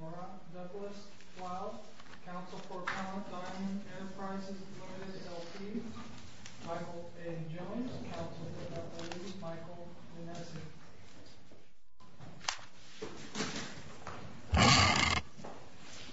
Nora Douglas-Flowe, Council for Counter-Targeted Enterprises Ltd. Ltd. Michael A. Jones, Council for Reliability Michael Younessi Douglas-Flowe, Council for Counter-Targeted Enterprises Ltd. Michael A. Jones, Council for Counter-Targeted Enterprises Ltd. Michael A. Jones, Council for Counter-Targeted Enterprises Ltd. Michael A. Jones, Council for Counter-Targeted Enterprises Ltd. Michael A. Jones, Council for Counter-Targeted Enterprises Ltd.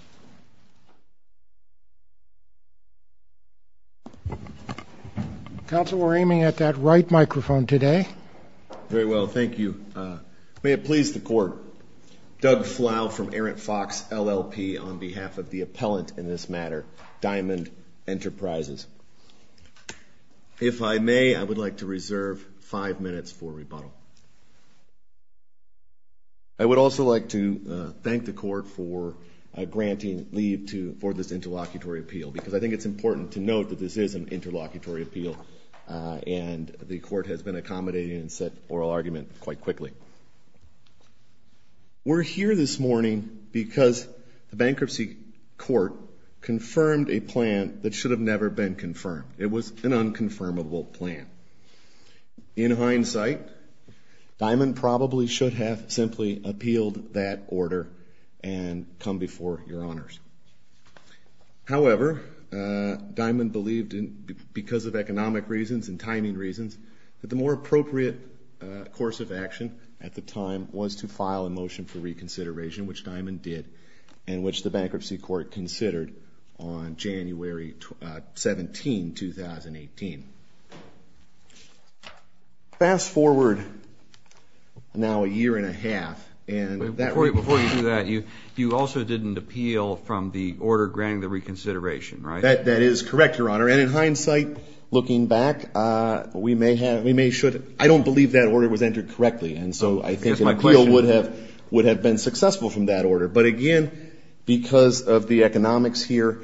We're here this morning because the bankruptcy court confirmed a plan that should have never been confirmed. It was an unconfirmable plan. In hindsight, Diamond probably should have simply appealed that order and come before your honors. However, Diamond believed, because of economic reasons and timing reasons, that the more appropriate course of action at the time was to file a motion for reconsideration, which Diamond did, and which the bankruptcy court considered on January 17, 2018. Fast forward now a year and a half. Before you do that, you also didn't appeal from the order granting the reconsideration, right? That is correct, your honor. And in hindsight, looking back, I don't believe that order was entered correctly. And so I think an appeal would have been successful from that order. But again, because of the economics here,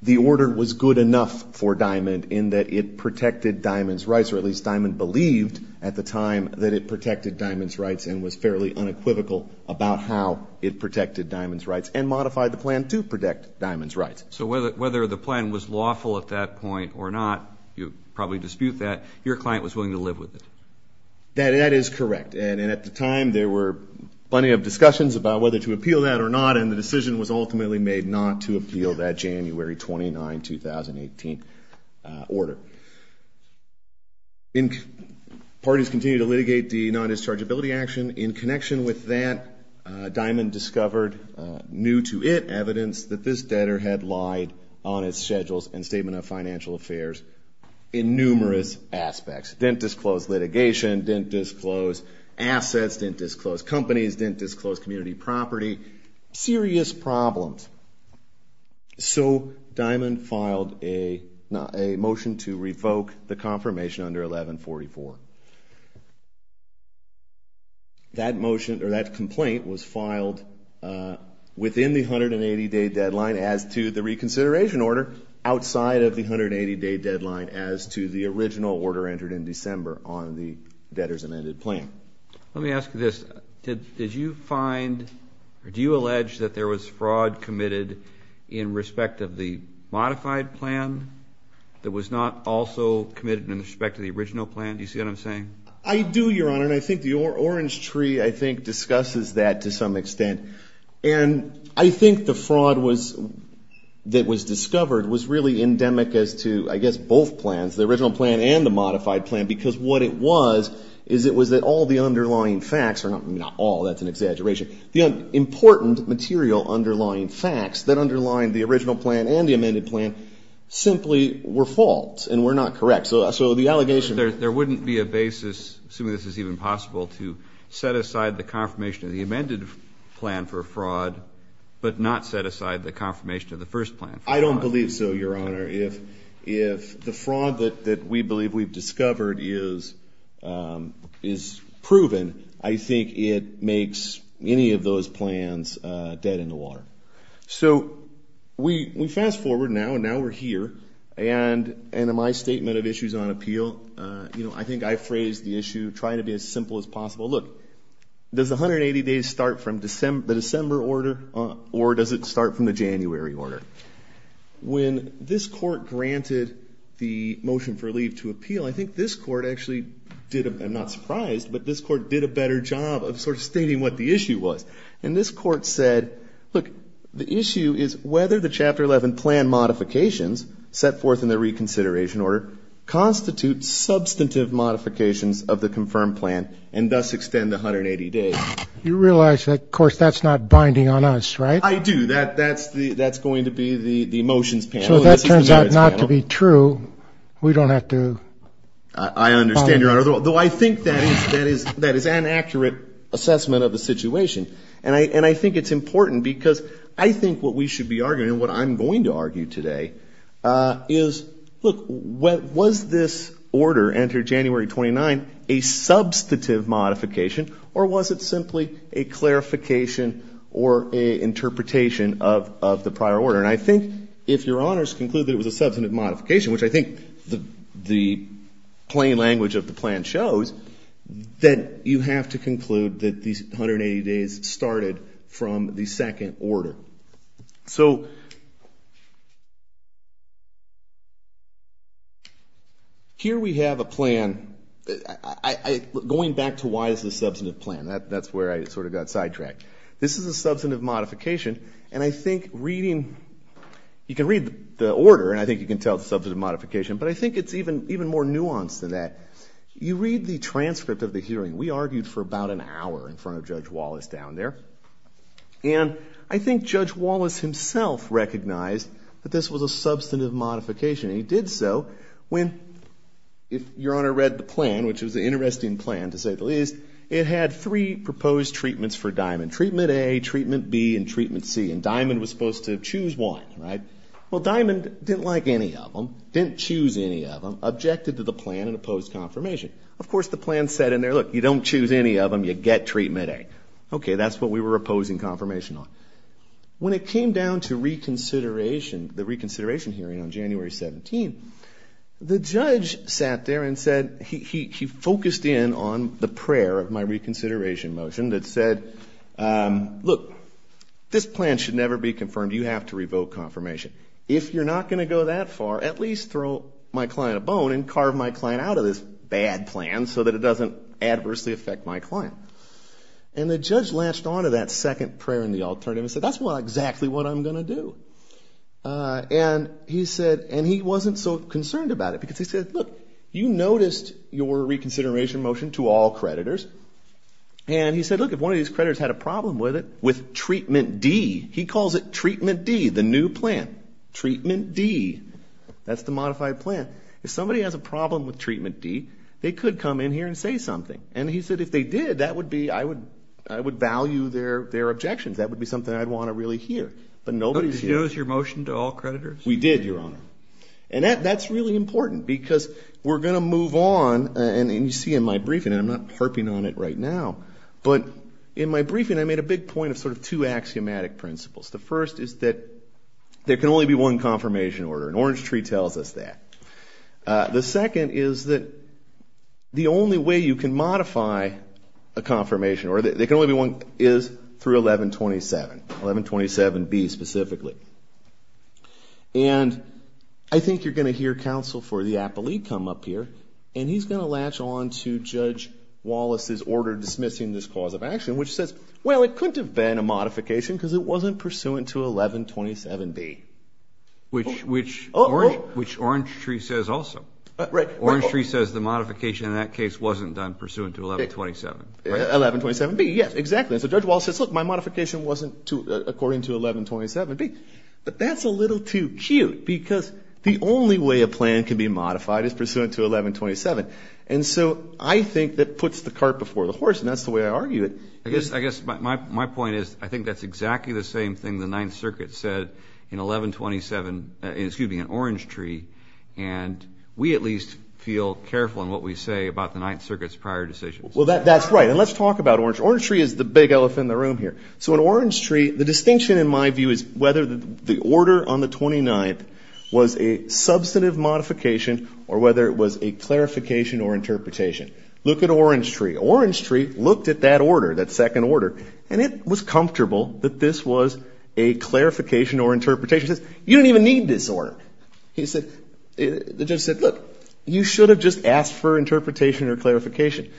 the order was good enough for Diamond in that it protected Diamond's rights, or at least Diamond believed at the time that it protected Diamond's rights and was fairly unequivocal about how it protected Diamond's rights and modified the plan to protect Diamond's rights. So whether the plan was lawful at that point or not, you'd probably dispute that, your client was willing to live with it. That is correct. And at the time, there were plenty of discussions about whether to appeal that or not, and the decision was ultimately made not to appeal that January 29, 2018 order. Parties continued to litigate the non-dischargeability action. In connection with that, Diamond discovered new-to-it evidence that this debtor had lied on his schedules and statement of financial affairs in numerous aspects. Didn't disclose litigation, didn't disclose assets, didn't disclose companies, didn't disclose community property. Serious problems. So Diamond filed a motion to revoke the confirmation under 1144. That motion, or that complaint, was filed within the 180-day deadline as to the reconsideration order, outside of the 180-day deadline as to the original order entered in December on the debtor's amended plan. Let me ask you this. Did you find or do you allege that there was fraud committed in respect of the modified plan that was not also committed in respect to the original plan? Do you see what I'm saying? I do, Your Honor, and I think the orange tree, I think, discusses that to some extent. And I think the fraud that was discovered was really endemic as to, I guess, both plans, the original plan and the modified plan, because what it was is it was that all the underlying facts, or not all, that's an exaggeration, the important material underlying facts that underlined the original plan and the amended plan simply were false and were not correct. So the allegation... There wouldn't be a basis, assuming this is even possible, to set aside the confirmation of the amended plan for fraud, but not set aside the confirmation of the first plan. I don't believe so, Your Honor. If the fraud that we believe we've discovered is proven, I think it makes any of those plans dead in the water. So we fast forward now, and now we're here, and in my statement of issues on appeal, I think I phrased the issue trying to be as simple as possible. Look, does the 180 days start from the December order, or does it start from the January order? When this court granted the motion for leave to appeal, I think this court actually did, I'm not surprised, but this court did a better job of sort of stating what the issue was. And this court said, look, the issue is whether the Chapter 11 plan modifications set forth in the reconsideration order constitute substantive modifications of the confirmed plan and thus extend the 180 days. You realize that, of course, that's not binding on us, right? I do. That's going to be the motions panel. So if that turns out not to be true, we don't have to... I understand, Your Honor, though I think that is an accurate assessment of the situation. And I think it's important because I think what we should be arguing and what I'm going to argue today is, look, was this order entered January 29 a substantive modification, or was it simply a clarification or an interpretation of the prior order? And I think if Your Honors conclude that it was a substantive modification, which I think the plain language of the plan shows, then you have to conclude that these 180 days started from the second order. So here we have a plan. Going back to why it's a substantive plan, that's where I sort of got sidetracked. This is a substantive modification, and I think reading... You can read the order, and I think you can tell it's a substantive modification, but I think it's even more nuanced than that. You read the transcript of the hearing. We argued for about an hour in front of Judge Wallace down there, and I think Judge Wallace himself recognized that this was a substantive modification, and he did so when, if Your Honor read the plan, which was an interesting plan to say the least, it had three proposed treatments for Diamond. Treatment A, Treatment B, and Treatment C. And Diamond was supposed to choose one, right? Well, Diamond didn't like any of them, didn't choose any of them, objected to the plan and opposed confirmation. Of course, the plan said in there, look, you don't choose any of them, you get Treatment A. Okay, that's what we were opposing confirmation on. When it came down to reconsideration, the reconsideration hearing on January 17th, the judge sat there and said, he focused in on the prayer of my reconsideration motion that said, look, this plan should never be confirmed. You have to revoke confirmation. If you're not going to go that far, at least throw my client a bone and carve my client out of this bad plan so that it doesn't adversely affect my client. And the judge latched on to that second prayer in the alternative and said, that's exactly what I'm going to do. And he said, and he wasn't so concerned about it because he said, look, you noticed your reconsideration motion to all creditors, and he said, look, if one of these creditors had a problem with it, he calls it Treatment D, the new plan, Treatment D. That's the modified plan. If somebody has a problem with Treatment D, they could come in here and say something. And he said, if they did, that would be, I would value their objections. That would be something I'd want to really hear. But nobody's here. Did you notice your motion to all creditors? We did, Your Honor. And that's really important because we're going to move on, and you see in my briefing, and I'm not harping on it right now, but in my briefing, I made a big point of sort of two axiomatic principles. The first is that there can only be one confirmation order, and Orange Tree tells us that. The second is that the only way you can modify a confirmation order, there can only be one, is through 1127, 1127B specifically. And I think you're going to hear counsel for the appellee come up here, and he's going to latch on to Judge Wallace's order dismissing this cause of action, which says, well, it couldn't have been a modification because it wasn't pursuant to 1127B. Which Orange Tree says also. Right. Orange Tree says the modification in that case wasn't done pursuant to 1127. 1127B, yes, exactly. And so Judge Wallace says, look, my modification wasn't according to 1127B. But that's a little too cute because the only way a plan can be modified is pursuant to 1127. And so I think that puts the cart before the horse, and that's the way I argue it. I guess my point is I think that's exactly the same thing the Ninth Circuit said in 1127, excuse me, in Orange Tree, and we at least feel careful in what we say about the Ninth Circuit's prior decisions. Well, that's right. And let's talk about Orange Tree. Orange Tree is the big elephant in the room here. So in Orange Tree, the distinction in my view is whether the order on the 29th was a substantive modification or whether it was a clarification or interpretation. Look at Orange Tree. Orange Tree looked at that order, that second order, and it was comfortable that this was a clarification or interpretation. It says, you don't even need this order. The judge said, look, you should have just asked for interpretation or clarification.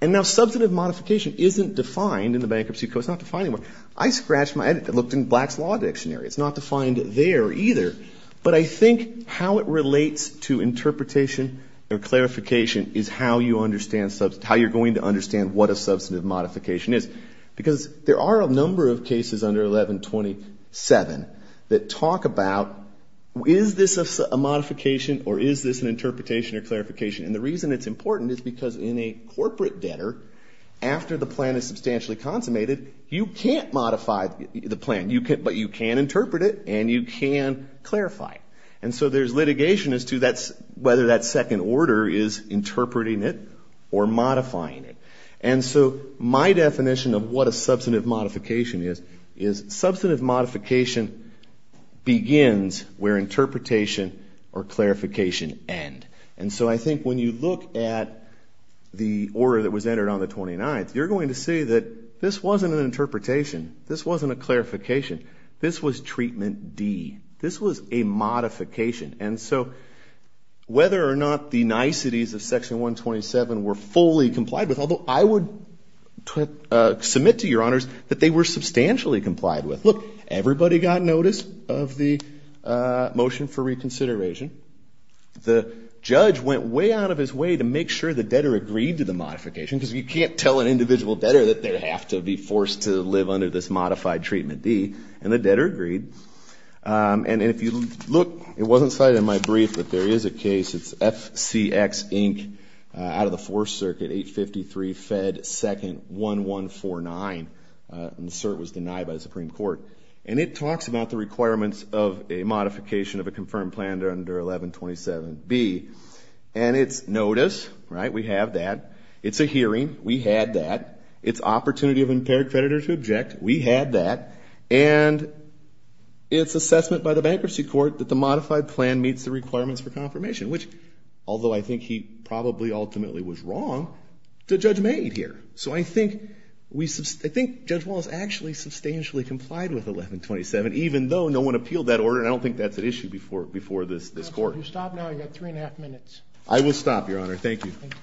And now substantive modification isn't defined in the Bankruptcy Code. It's not defined anywhere. I scratched my head. I looked in Black's Law Dictionary. It's not defined there either. But I think how it relates to interpretation or clarification is how you understand, how you're going to understand what a substantive modification is. Because there are a number of cases under 1127 that talk about, is this a modification or is this an interpretation or clarification? And the reason it's important is because in a corporate debtor, after the plan is substantially consummated, you can't modify the plan, but you can interpret it and you can clarify it. And so there's litigation as to whether that second order is interpreting it or modifying it. And so my definition of what a substantive modification is, is substantive modification begins where interpretation or clarification end. And so I think when you look at the order that was entered on the 29th, you're going to see that this wasn't an interpretation. This wasn't a clarification. This was treatment D. This was a modification. And so whether or not the niceties of Section 127 were fully complied with, although I would submit to your honors that they were substantially complied with. Look, everybody got notice of the motion for reconsideration. The judge went way out of his way to make sure the debtor agreed to the modification, because you can't tell an individual debtor that they have to be forced to live under this modified treatment D. And the debtor agreed. And if you look, it wasn't cited in my brief, but there is a case. It's FCX, Inc., out of the Fourth Circuit, 853 Fed 2nd 1149. And the cert was denied by the Supreme Court. And it talks about the requirements of a modification of a confirmed plan under 1127B. And it's notice, right? We have that. It's a hearing. We had that. It's opportunity of impaired creditor to object. We had that. And it's assessment by the Bankruptcy Court that the modified plan meets the requirements for confirmation, which although I think he probably ultimately was wrong, the judge made here. So I think Judge Wallace actually substantially complied with 1127, even though no one appealed that order. And I don't think that's an issue before this court. If you stop now, you've got three and a half minutes. I will stop, Your Honor. Thank you. Thank you.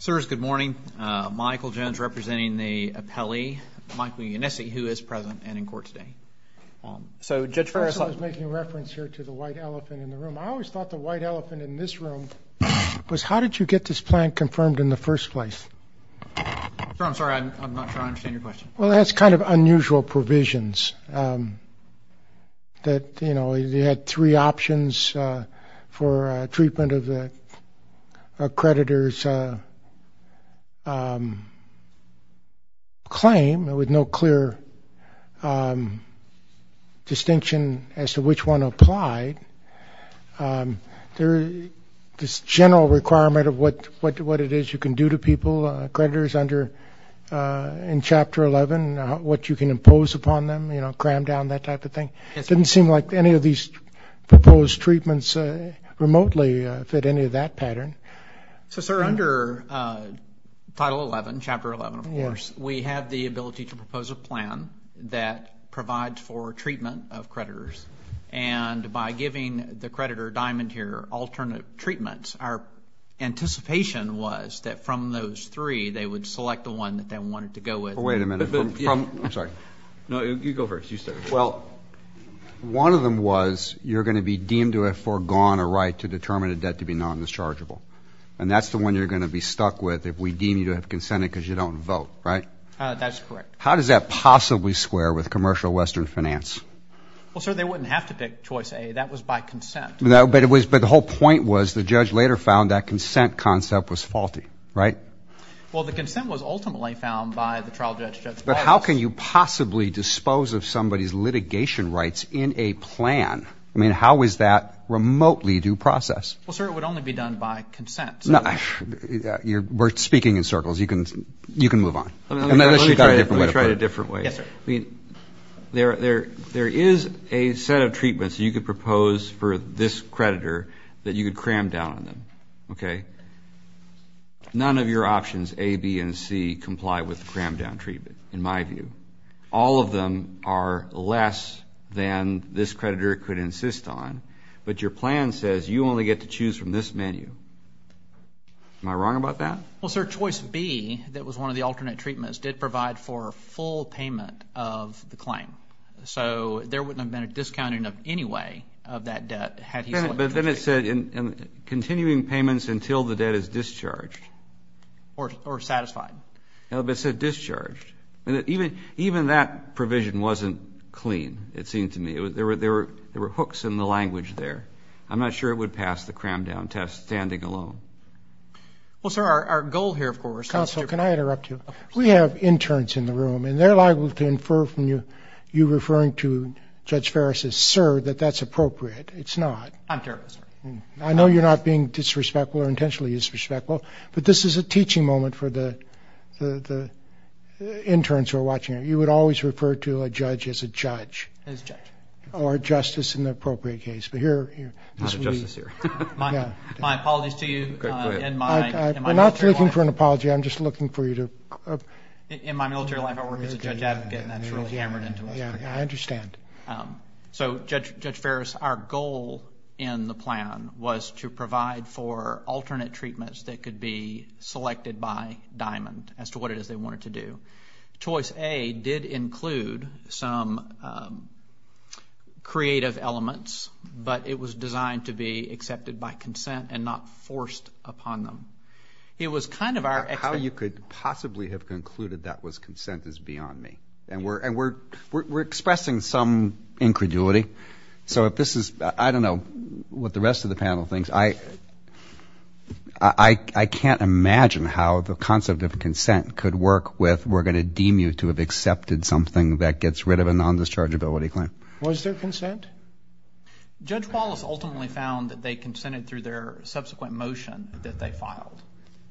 Sirs, good morning. Michael Jones representing the appellee, Michael Yannesi, who is present and in court today. So Judge Ferris. I was making reference here to the white elephant in the room. I always thought the white elephant in this room was how did you get this plan confirmed in the first place? Sir, I'm sorry. I'm not sure I understand your question. Well, that's kind of unusual provisions that, you know, distinction as to which one applied. This general requirement of what it is you can do to people, creditors under in Chapter 11, what you can impose upon them, you know, cram down, that type of thing. It didn't seem like any of these proposed treatments remotely fit any of that pattern. So, sir, under Title 11, Chapter 11, of course, we have the ability to propose a plan that provides for treatment of creditors. And by giving the creditor, Diamond here, alternate treatments, our anticipation was that from those three, they would select the one that they wanted to go with. Wait a minute. I'm sorry. No, you go first. You start. Well, one of them was you're going to be deemed to have foregone a right to determine a debt to be non-dischargeable. And that's the one you're going to be stuck with if we deem you to have consented because you don't vote, right? That's correct. How does that possibly square with commercial Western finance? Well, sir, they wouldn't have to pick choice A. That was by consent. But the whole point was the judge later found that consent concept was faulty, right? Well, the consent was ultimately found by the trial judge. But how can you possibly dispose of somebody's litigation rights in a plan? I mean, how is that remotely due process? Well, sir, it would only be done by consent. We're speaking in circles. You can move on. Let me try it a different way. Yes, sir. There is a set of treatments you could propose for this creditor that you could cram down on them, okay? None of your options, A, B, and C, comply with the cram down treatment in my view. All of them are less than this creditor could insist on. But your plan says you only get to choose from this menu. Am I wrong about that? Well, sir, choice B, that was one of the alternate treatments, did provide for a full payment of the claim. So there wouldn't have been a discounting of any way of that debt had he selected B. But then it said continuing payments until the debt is discharged. Or satisfied. No, but it said discharged. Even that provision wasn't clean, it seemed to me. There were hooks in the language there. I'm not sure it would pass the cram down test standing alone. Well, sir, our goal here, of course. Counsel, can I interrupt you? We have interns in the room, and they're liable to infer from you referring to Judge Ferris as sir that that's appropriate. It's not. I'm terribly sorry. I know you're not being disrespectful or intentionally disrespectful, but this is a teaching moment for the interns who are watching. You would always refer to a judge as a judge. As a judge. Or a justice in the appropriate case. I'm not a justice here. My apologies to you. We're not looking for an apology. I'm just looking for you to. In my military life, I work as a judge advocate, and that's really hammered into us. I understand. So, Judge Ferris, our goal in the plan was to provide for alternate treatments that could be selected by Diamond, as to what it is they wanted to do. Choice A did include some creative elements, but it was designed to be accepted by consent and not forced upon them. It was kind of our expectation. How you could possibly have concluded that was consent is beyond me. And we're expressing some incredulity. So if this is, I don't know what the rest of the panel thinks. Judge, I can't imagine how the concept of consent could work with, we're going to deem you to have accepted something that gets rid of a nondischargeability claim. Was there consent? Judge Wallace ultimately found that they consented through their subsequent motion that they filed.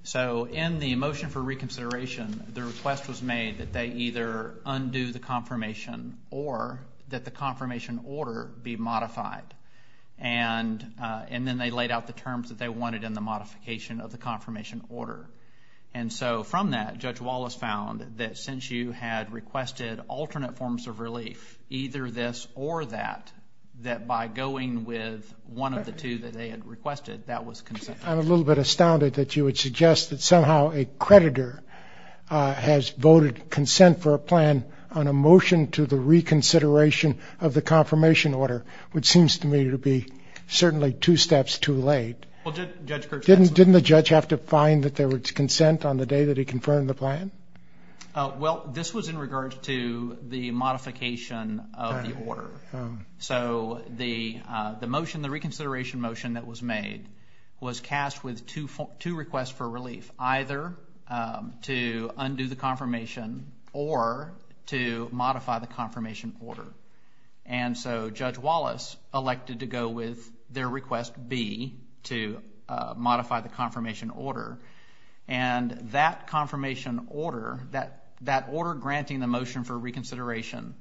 So in the motion for reconsideration, the request was made that they either undo the confirmation or that the confirmation order be modified. And then they laid out the terms that they wanted in the modification of the confirmation order. And so from that, Judge Wallace found that since you had requested alternate forms of relief, either this or that, that by going with one of the two that they had requested, that was consent. I'm a little bit astounded that you would suggest that somehow a creditor has voted consent for a plan on a motion to the reconsideration of the confirmation order, which seems to me to be certainly two steps too late. Didn't the judge have to find that there was consent on the day that he confirmed the plan? Well, this was in regards to the modification of the order. So the motion, the reconsideration motion that was made, was cast with two requests for relief, either to undo the confirmation or to modify the confirmation order. And so Judge Wallace elected to go with their request, B, to modify the confirmation order. And that confirmation order, that order granting the motion for reconsideration,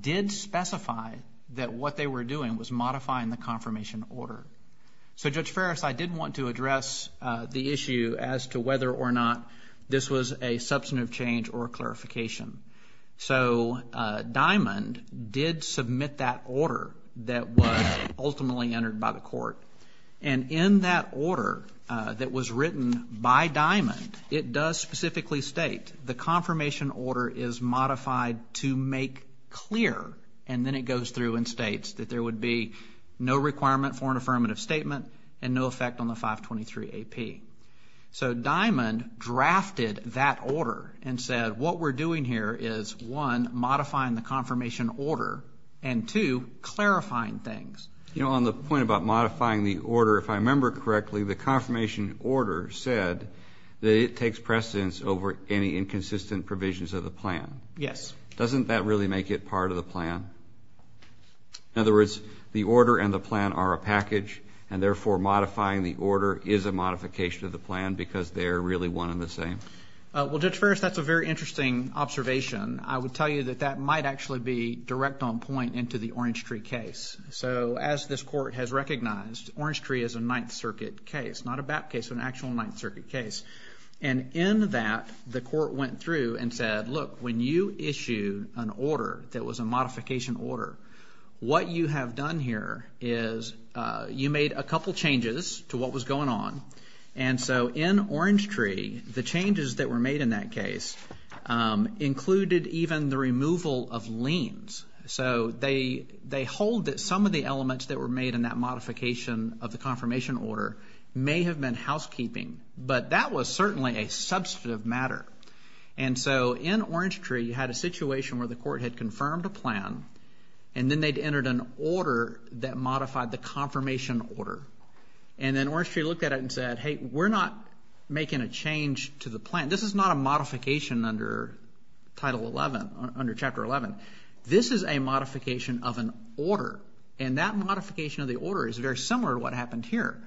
did specify that what they were doing was modifying the confirmation order. So, Judge Ferris, I did want to address the issue as to whether or not this was a substantive change or a clarification. So Diamond did submit that order that was ultimately entered by the court. And in that order that was written by Diamond, it does specifically state the confirmation order is modified to make clear, and then it goes through and states that there would be no requirement for an affirmative statement and no effect on the 523AP. So Diamond drafted that order and said what we're doing here is, one, modifying the confirmation order, and, two, clarifying things. You know, on the point about modifying the order, if I remember correctly, the confirmation order said that it takes precedence over any inconsistent provisions of the plan. Yes. Doesn't that really make it part of the plan? In other words, the order and the plan are a package, and therefore modifying the order is a modification of the plan because they're really one and the same? Well, Judge Ferris, that's a very interesting observation. I would tell you that that might actually be direct on point into the Orange Tree case. So as this court has recognized, Orange Tree is a Ninth Circuit case, not a BAP case, an actual Ninth Circuit case. And in that, the court went through and said, look, when you issue an order that was a modification order, what you have done here is you made a couple changes to what was going on. And so in Orange Tree, the changes that were made in that case included even the removal of liens. So they hold that some of the elements that were made in that modification of the confirmation order may have been housekeeping. But that was certainly a substantive matter. And so in Orange Tree, you had a situation where the court had confirmed a plan, and then they'd entered an order that modified the confirmation order. And then Orange Tree looked at it and said, hey, we're not making a change to the plan. This is not a modification under Title 11, under Chapter 11. This is a modification of an order, and that modification of the order is very similar to what happened here.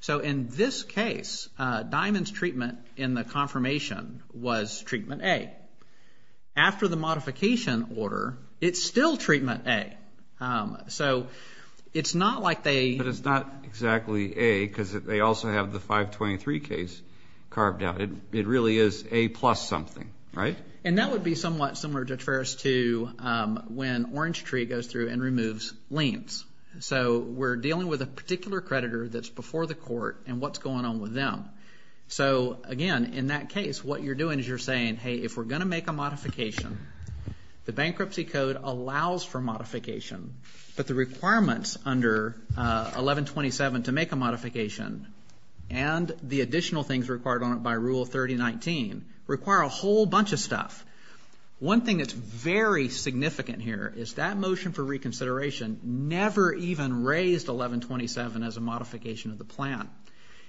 So in this case, Diamond's treatment in the confirmation was treatment A. After the modification order, it's still treatment A. So it's not like they – But it's not exactly A because they also have the 523 case carved out. It really is A plus something, right? And that would be somewhat similar, Judge Ferris, to when Orange Tree goes through and removes liens. So we're dealing with a particular creditor that's before the court and what's going on with them. So, again, in that case, what you're doing is you're saying, hey, if we're going to make a modification, the bankruptcy code allows for modification, but the requirements under 1127 to make a modification and the additional things required on it by Rule 3019 require a whole bunch of stuff. One thing that's very significant here is that motion for reconsideration never even raised 1127 as a modification of the plan.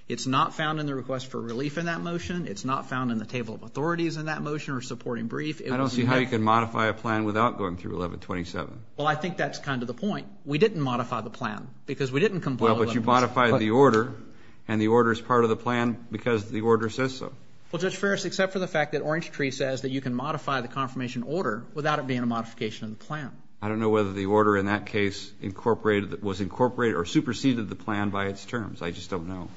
It's not found in the request for relief in that motion. It's not found in the table of authorities in that motion or supporting brief. I don't see how you can modify a plan without going through 1127. Well, I think that's kind of the point. We didn't modify the plan because we didn't – Well, but you modified the order, and the order is part of the plan because the order says so. Well, Judge Ferris, except for the fact that Orange Tree says that you can modify the confirmation order without it being a modification of the plan. I don't know whether the order in that case incorporated – was incorporated or superseded the plan by its terms. I just don't know.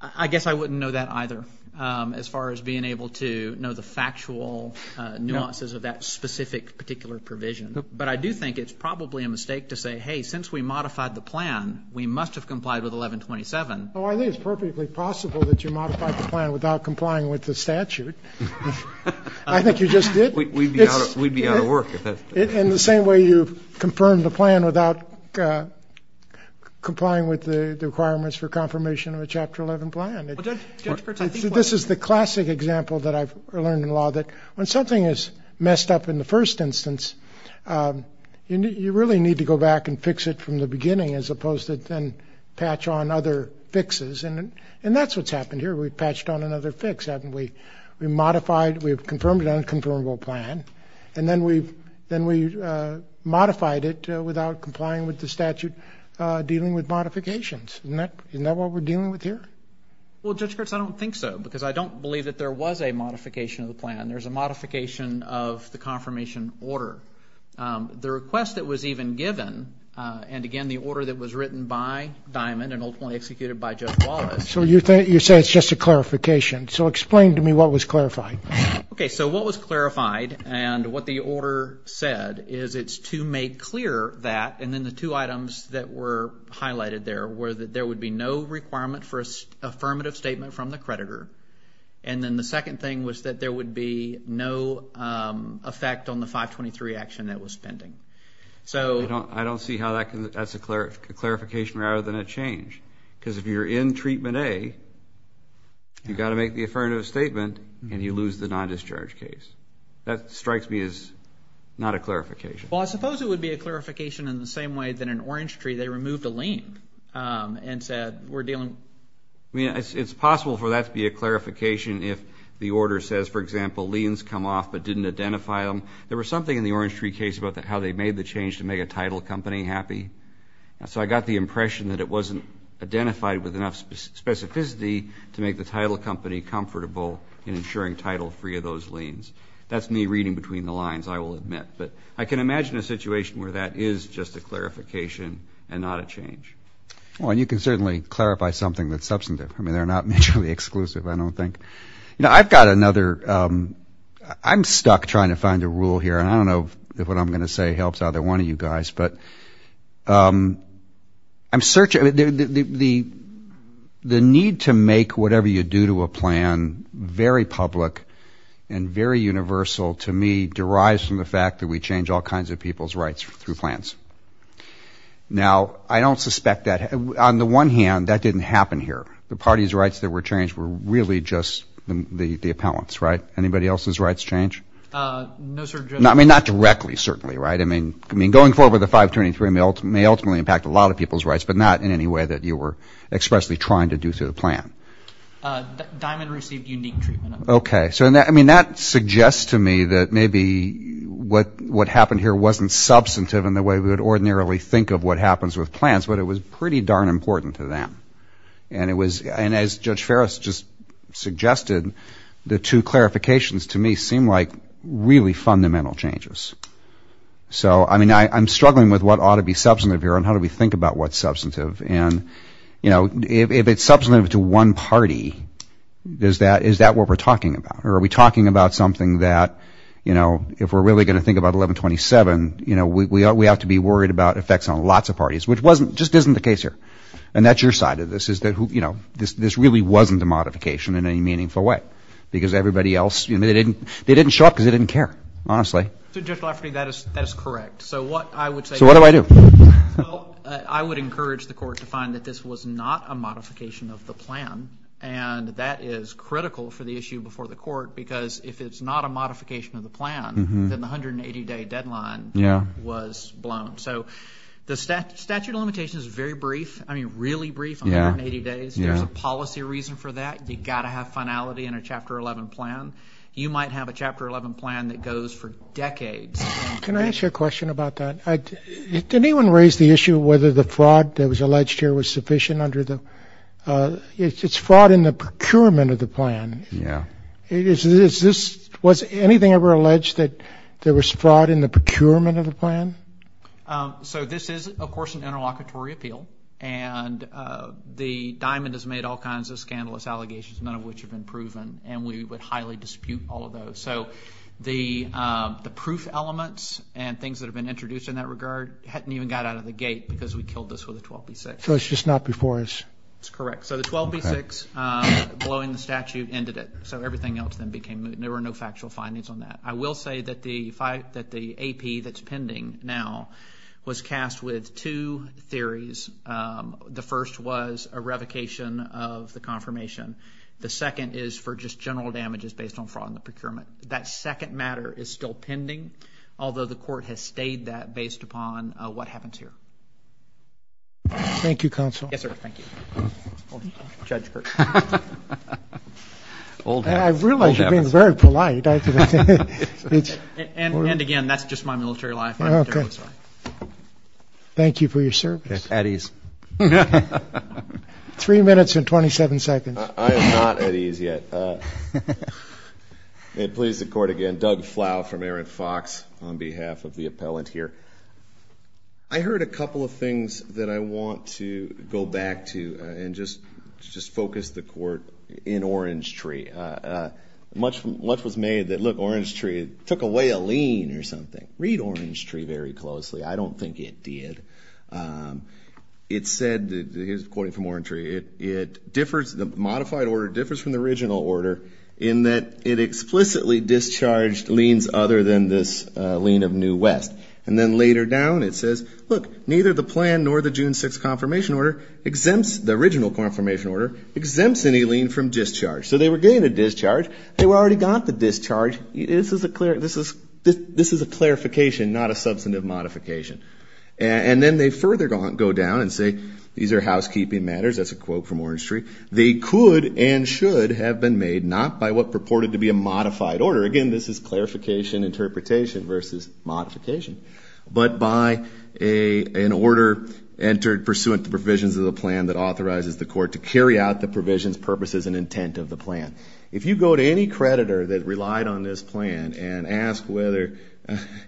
I guess I wouldn't know that either as far as being able to know the factual nuances of that specific particular provision. But I do think it's probably a mistake to say, hey, since we modified the plan, we must have complied with 1127. Well, I think it's perfectly possible that you modified the plan without complying with the statute. I think you just did. We'd be out of work if that's – In the same way you've confirmed the plan without complying with the requirements for confirmation of a Chapter 11 plan. Well, Judge Ferris, I think what – This is the classic example that I've learned in law, that when something is messed up in the first instance, you really need to go back and fix it from the beginning as opposed to then patch on other fixes. And that's what's happened here. We've patched on another fix, haven't we? We modified – we've confirmed an unconfirmable plan, and then we modified it without complying with the statute dealing with modifications. Isn't that what we're dealing with here? Well, Judge Kurtz, I don't think so because I don't believe that there was a modification of the plan. There's a modification of the confirmation order. The request that was even given, and, again, the order that was written by Diamond and ultimately executed by Judge Wallace – So you say it's just a clarification. So explain to me what was clarified. Okay, so what was clarified and what the order said is it's to make clear that, and then the two items that were highlighted there were that there would be no requirement for an affirmative statement from the creditor. And then the second thing was that there would be no effect on the 523 action that was pending. I don't see how that's a clarification rather than a change because if you're in treatment A, you've got to make the affirmative statement, and you lose the non-discharge case. That strikes me as not a clarification. Well, I suppose it would be a clarification in the same way that in Orange Tree they removed a lien and said we're dealing – I mean, it's possible for that to be a clarification if the order says, for example, liens come off but didn't identify them. There was something in the Orange Tree case about how they made the change to make a title company happy. So I got the impression that it wasn't identified with enough specificity to make the title company comfortable in ensuring title free of those liens. That's me reading between the lines, I will admit. But I can imagine a situation where that is just a clarification and not a change. Well, and you can certainly clarify something that's substantive. I mean, they're not mutually exclusive, I don't think. You know, I've got another – I'm stuck trying to find a rule here, and I don't know if what I'm going to say helps either one of you guys. But I'm searching – the need to make whatever you do to a plan very public and very universal to me derives from the fact that we change all kinds of people's rights through plans. Now, I don't suspect that – on the one hand, that didn't happen here. The party's rights that were changed were really just the appellant's, right? Anybody else's rights change? No, sir. I mean, not directly, certainly, right? I mean, going forward with the 523 may ultimately impact a lot of people's rights, but not in any way that you were expressly trying to do through the plan. Diamond received unique treatment. Okay. So, I mean, that suggests to me that maybe what happened here wasn't substantive in the way we would ordinarily think of what happens with plans, but it was pretty darn important to them. And it was – and as Judge Ferris just suggested, the two clarifications to me seem like really fundamental changes. So, I mean, I'm struggling with what ought to be substantive here and how do we think about what's substantive. And, you know, if it's substantive to one party, is that what we're talking about? Or are we talking about something that, you know, if we're really going to think about 1127, you know, we ought to be worried about effects on lots of parties, which wasn't – just isn't the case here. And that's your side of this is that, you know, this really wasn't a modification in any meaningful way because everybody else – they didn't show up because they didn't care, honestly. So, Judge Lafferty, that is correct. So, what I would say to you – So, what do I do? Well, I would encourage the court to find that this was not a modification of the plan, and that is critical for the issue before the court because if it's not a modification of the plan, then the 180-day deadline was blown. So, the statute of limitations is very brief – I mean, really brief, 180 days. There's a policy reason for that. You've got to have finality in a Chapter 11 plan. You might have a Chapter 11 plan that goes for decades. Can I ask you a question about that? Did anyone raise the issue of whether the fraud that was alleged here was sufficient under the – it's fraud in the procurement of the plan. Yeah. Is this – was anything ever alleged that there was fraud in the procurement of the plan? So, this is, of course, an interlocutory appeal, and the diamond has made all kinds of scandalous allegations, none of which have been proven, and we would highly dispute all of those. So, the proof elements and things that have been introduced in that regard hadn't even got out of the gate because we killed this with a 12B6. So, it's just not before us? That's correct. So, the 12B6 blowing the statute ended it. So, everything else then became moot, and there were no factual findings on that. I will say that the AP that's pending now was cast with two theories. The first was a revocation of the confirmation. The second is for just general damages based on fraud in the procurement. That second matter is still pending, although the court has stayed that based upon what happens here. Thank you, counsel. Yes, sir. Thank you. I realize you're being very polite. And, again, that's just my military life. Thank you for your service. At ease. Three minutes and 27 seconds. I am not at ease yet. May it please the court again. Doug Flau from Aaron Fox on behalf of the appellant here. I heard a couple of things that I want to go back to and just focus the court in Orange Tree. Much was made that, look, Orange Tree took away a lien or something. Read Orange Tree very closely. I don't think it did. It said, according to Orange Tree, it differs, the modified order differs from the original order in that it explicitly discharged liens other than this lien of New West. And then later down it says, look, neither the plan nor the June 6th confirmation order exempts, the original confirmation order exempts any lien from discharge. So they were getting a discharge. They already got the discharge. This is a clarification, not a substantive modification. And then they further go down and say, these are housekeeping matters. That's a quote from Orange Tree. They could and should have been made not by what purported to be a modified order. Again, this is clarification interpretation versus modification. But by an order entered pursuant to provisions of the plan that authorizes the court to carry out the provisions, purposes, and intent of the plan. If you go to any creditor that relied on this plan and ask whether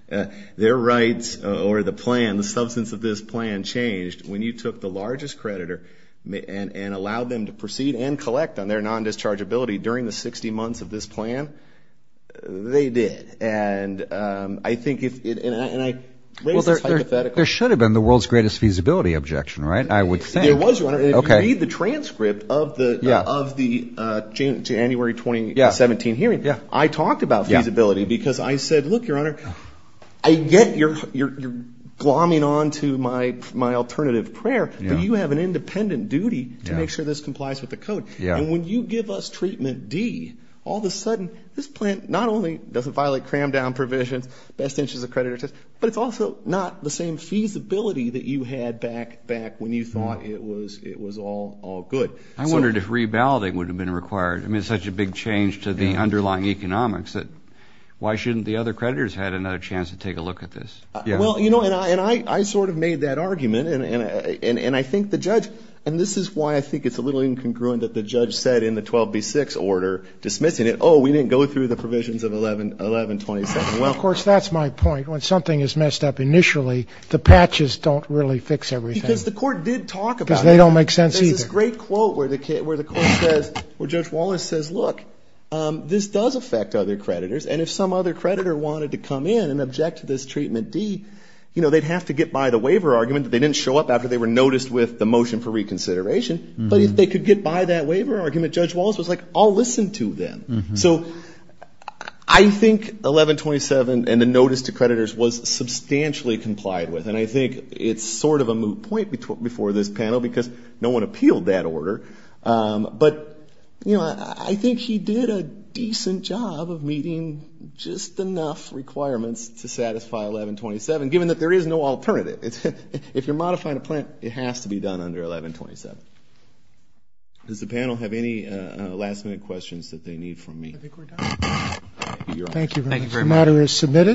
their rights or the plan, the substance of this plan, changed when you took the largest creditor and allowed them to proceed and collect on their non-dischargeability during the 60 months of this plan, they did. There should have been the world's greatest feasibility objection, right? I would think. There was one. If you read the transcript of the January 2017 hearing, I talked about feasibility because I said, look, Your Honor, I get you're glomming on to my alternative prayer, but you have an independent duty to make sure this complies with the code. And when you give us treatment D, all of a sudden, this plan not only doesn't violate cram-down provisions, best interest of creditors, but it's also not the same feasibility that you had back when you thought it was all good. I wondered if reballoting would have been required. I mean, it's such a big change to the underlying economics that why shouldn't the other creditors have another chance to take a look at this? Well, you know, and I sort of made that argument, and I think the judge, and this is why I think it's a little incongruent that the judge said in the 12B6 order, dismissing it, oh, we didn't go through the provisions of 1127. Well, of course, that's my point. When something is messed up initially, the patches don't really fix everything. Because the court did talk about it. Because they don't make sense either. There's a great quote where the court says, where Judge Wallace says, look, this does affect other creditors, and if some other creditor wanted to come in and object to this treatment D, they'd have to get by the waiver argument that they didn't show up after they were noticed with the motion for reconsideration. But if they could get by that waiver argument, Judge Wallace was like, I'll listen to them. So I think 1127 and the notice to creditors was substantially complied with, and I think it's sort of a moot point before this panel because no one appealed that order. But, you know, I think he did a decent job of meeting just enough requirements to satisfy 1127, given that there is no alternative. If you're modifying a plant, it has to be done under 1127. Does the panel have any last-minute questions that they need from me? I think we're done. Thank you very much. Thank you very much. The matter is submitted.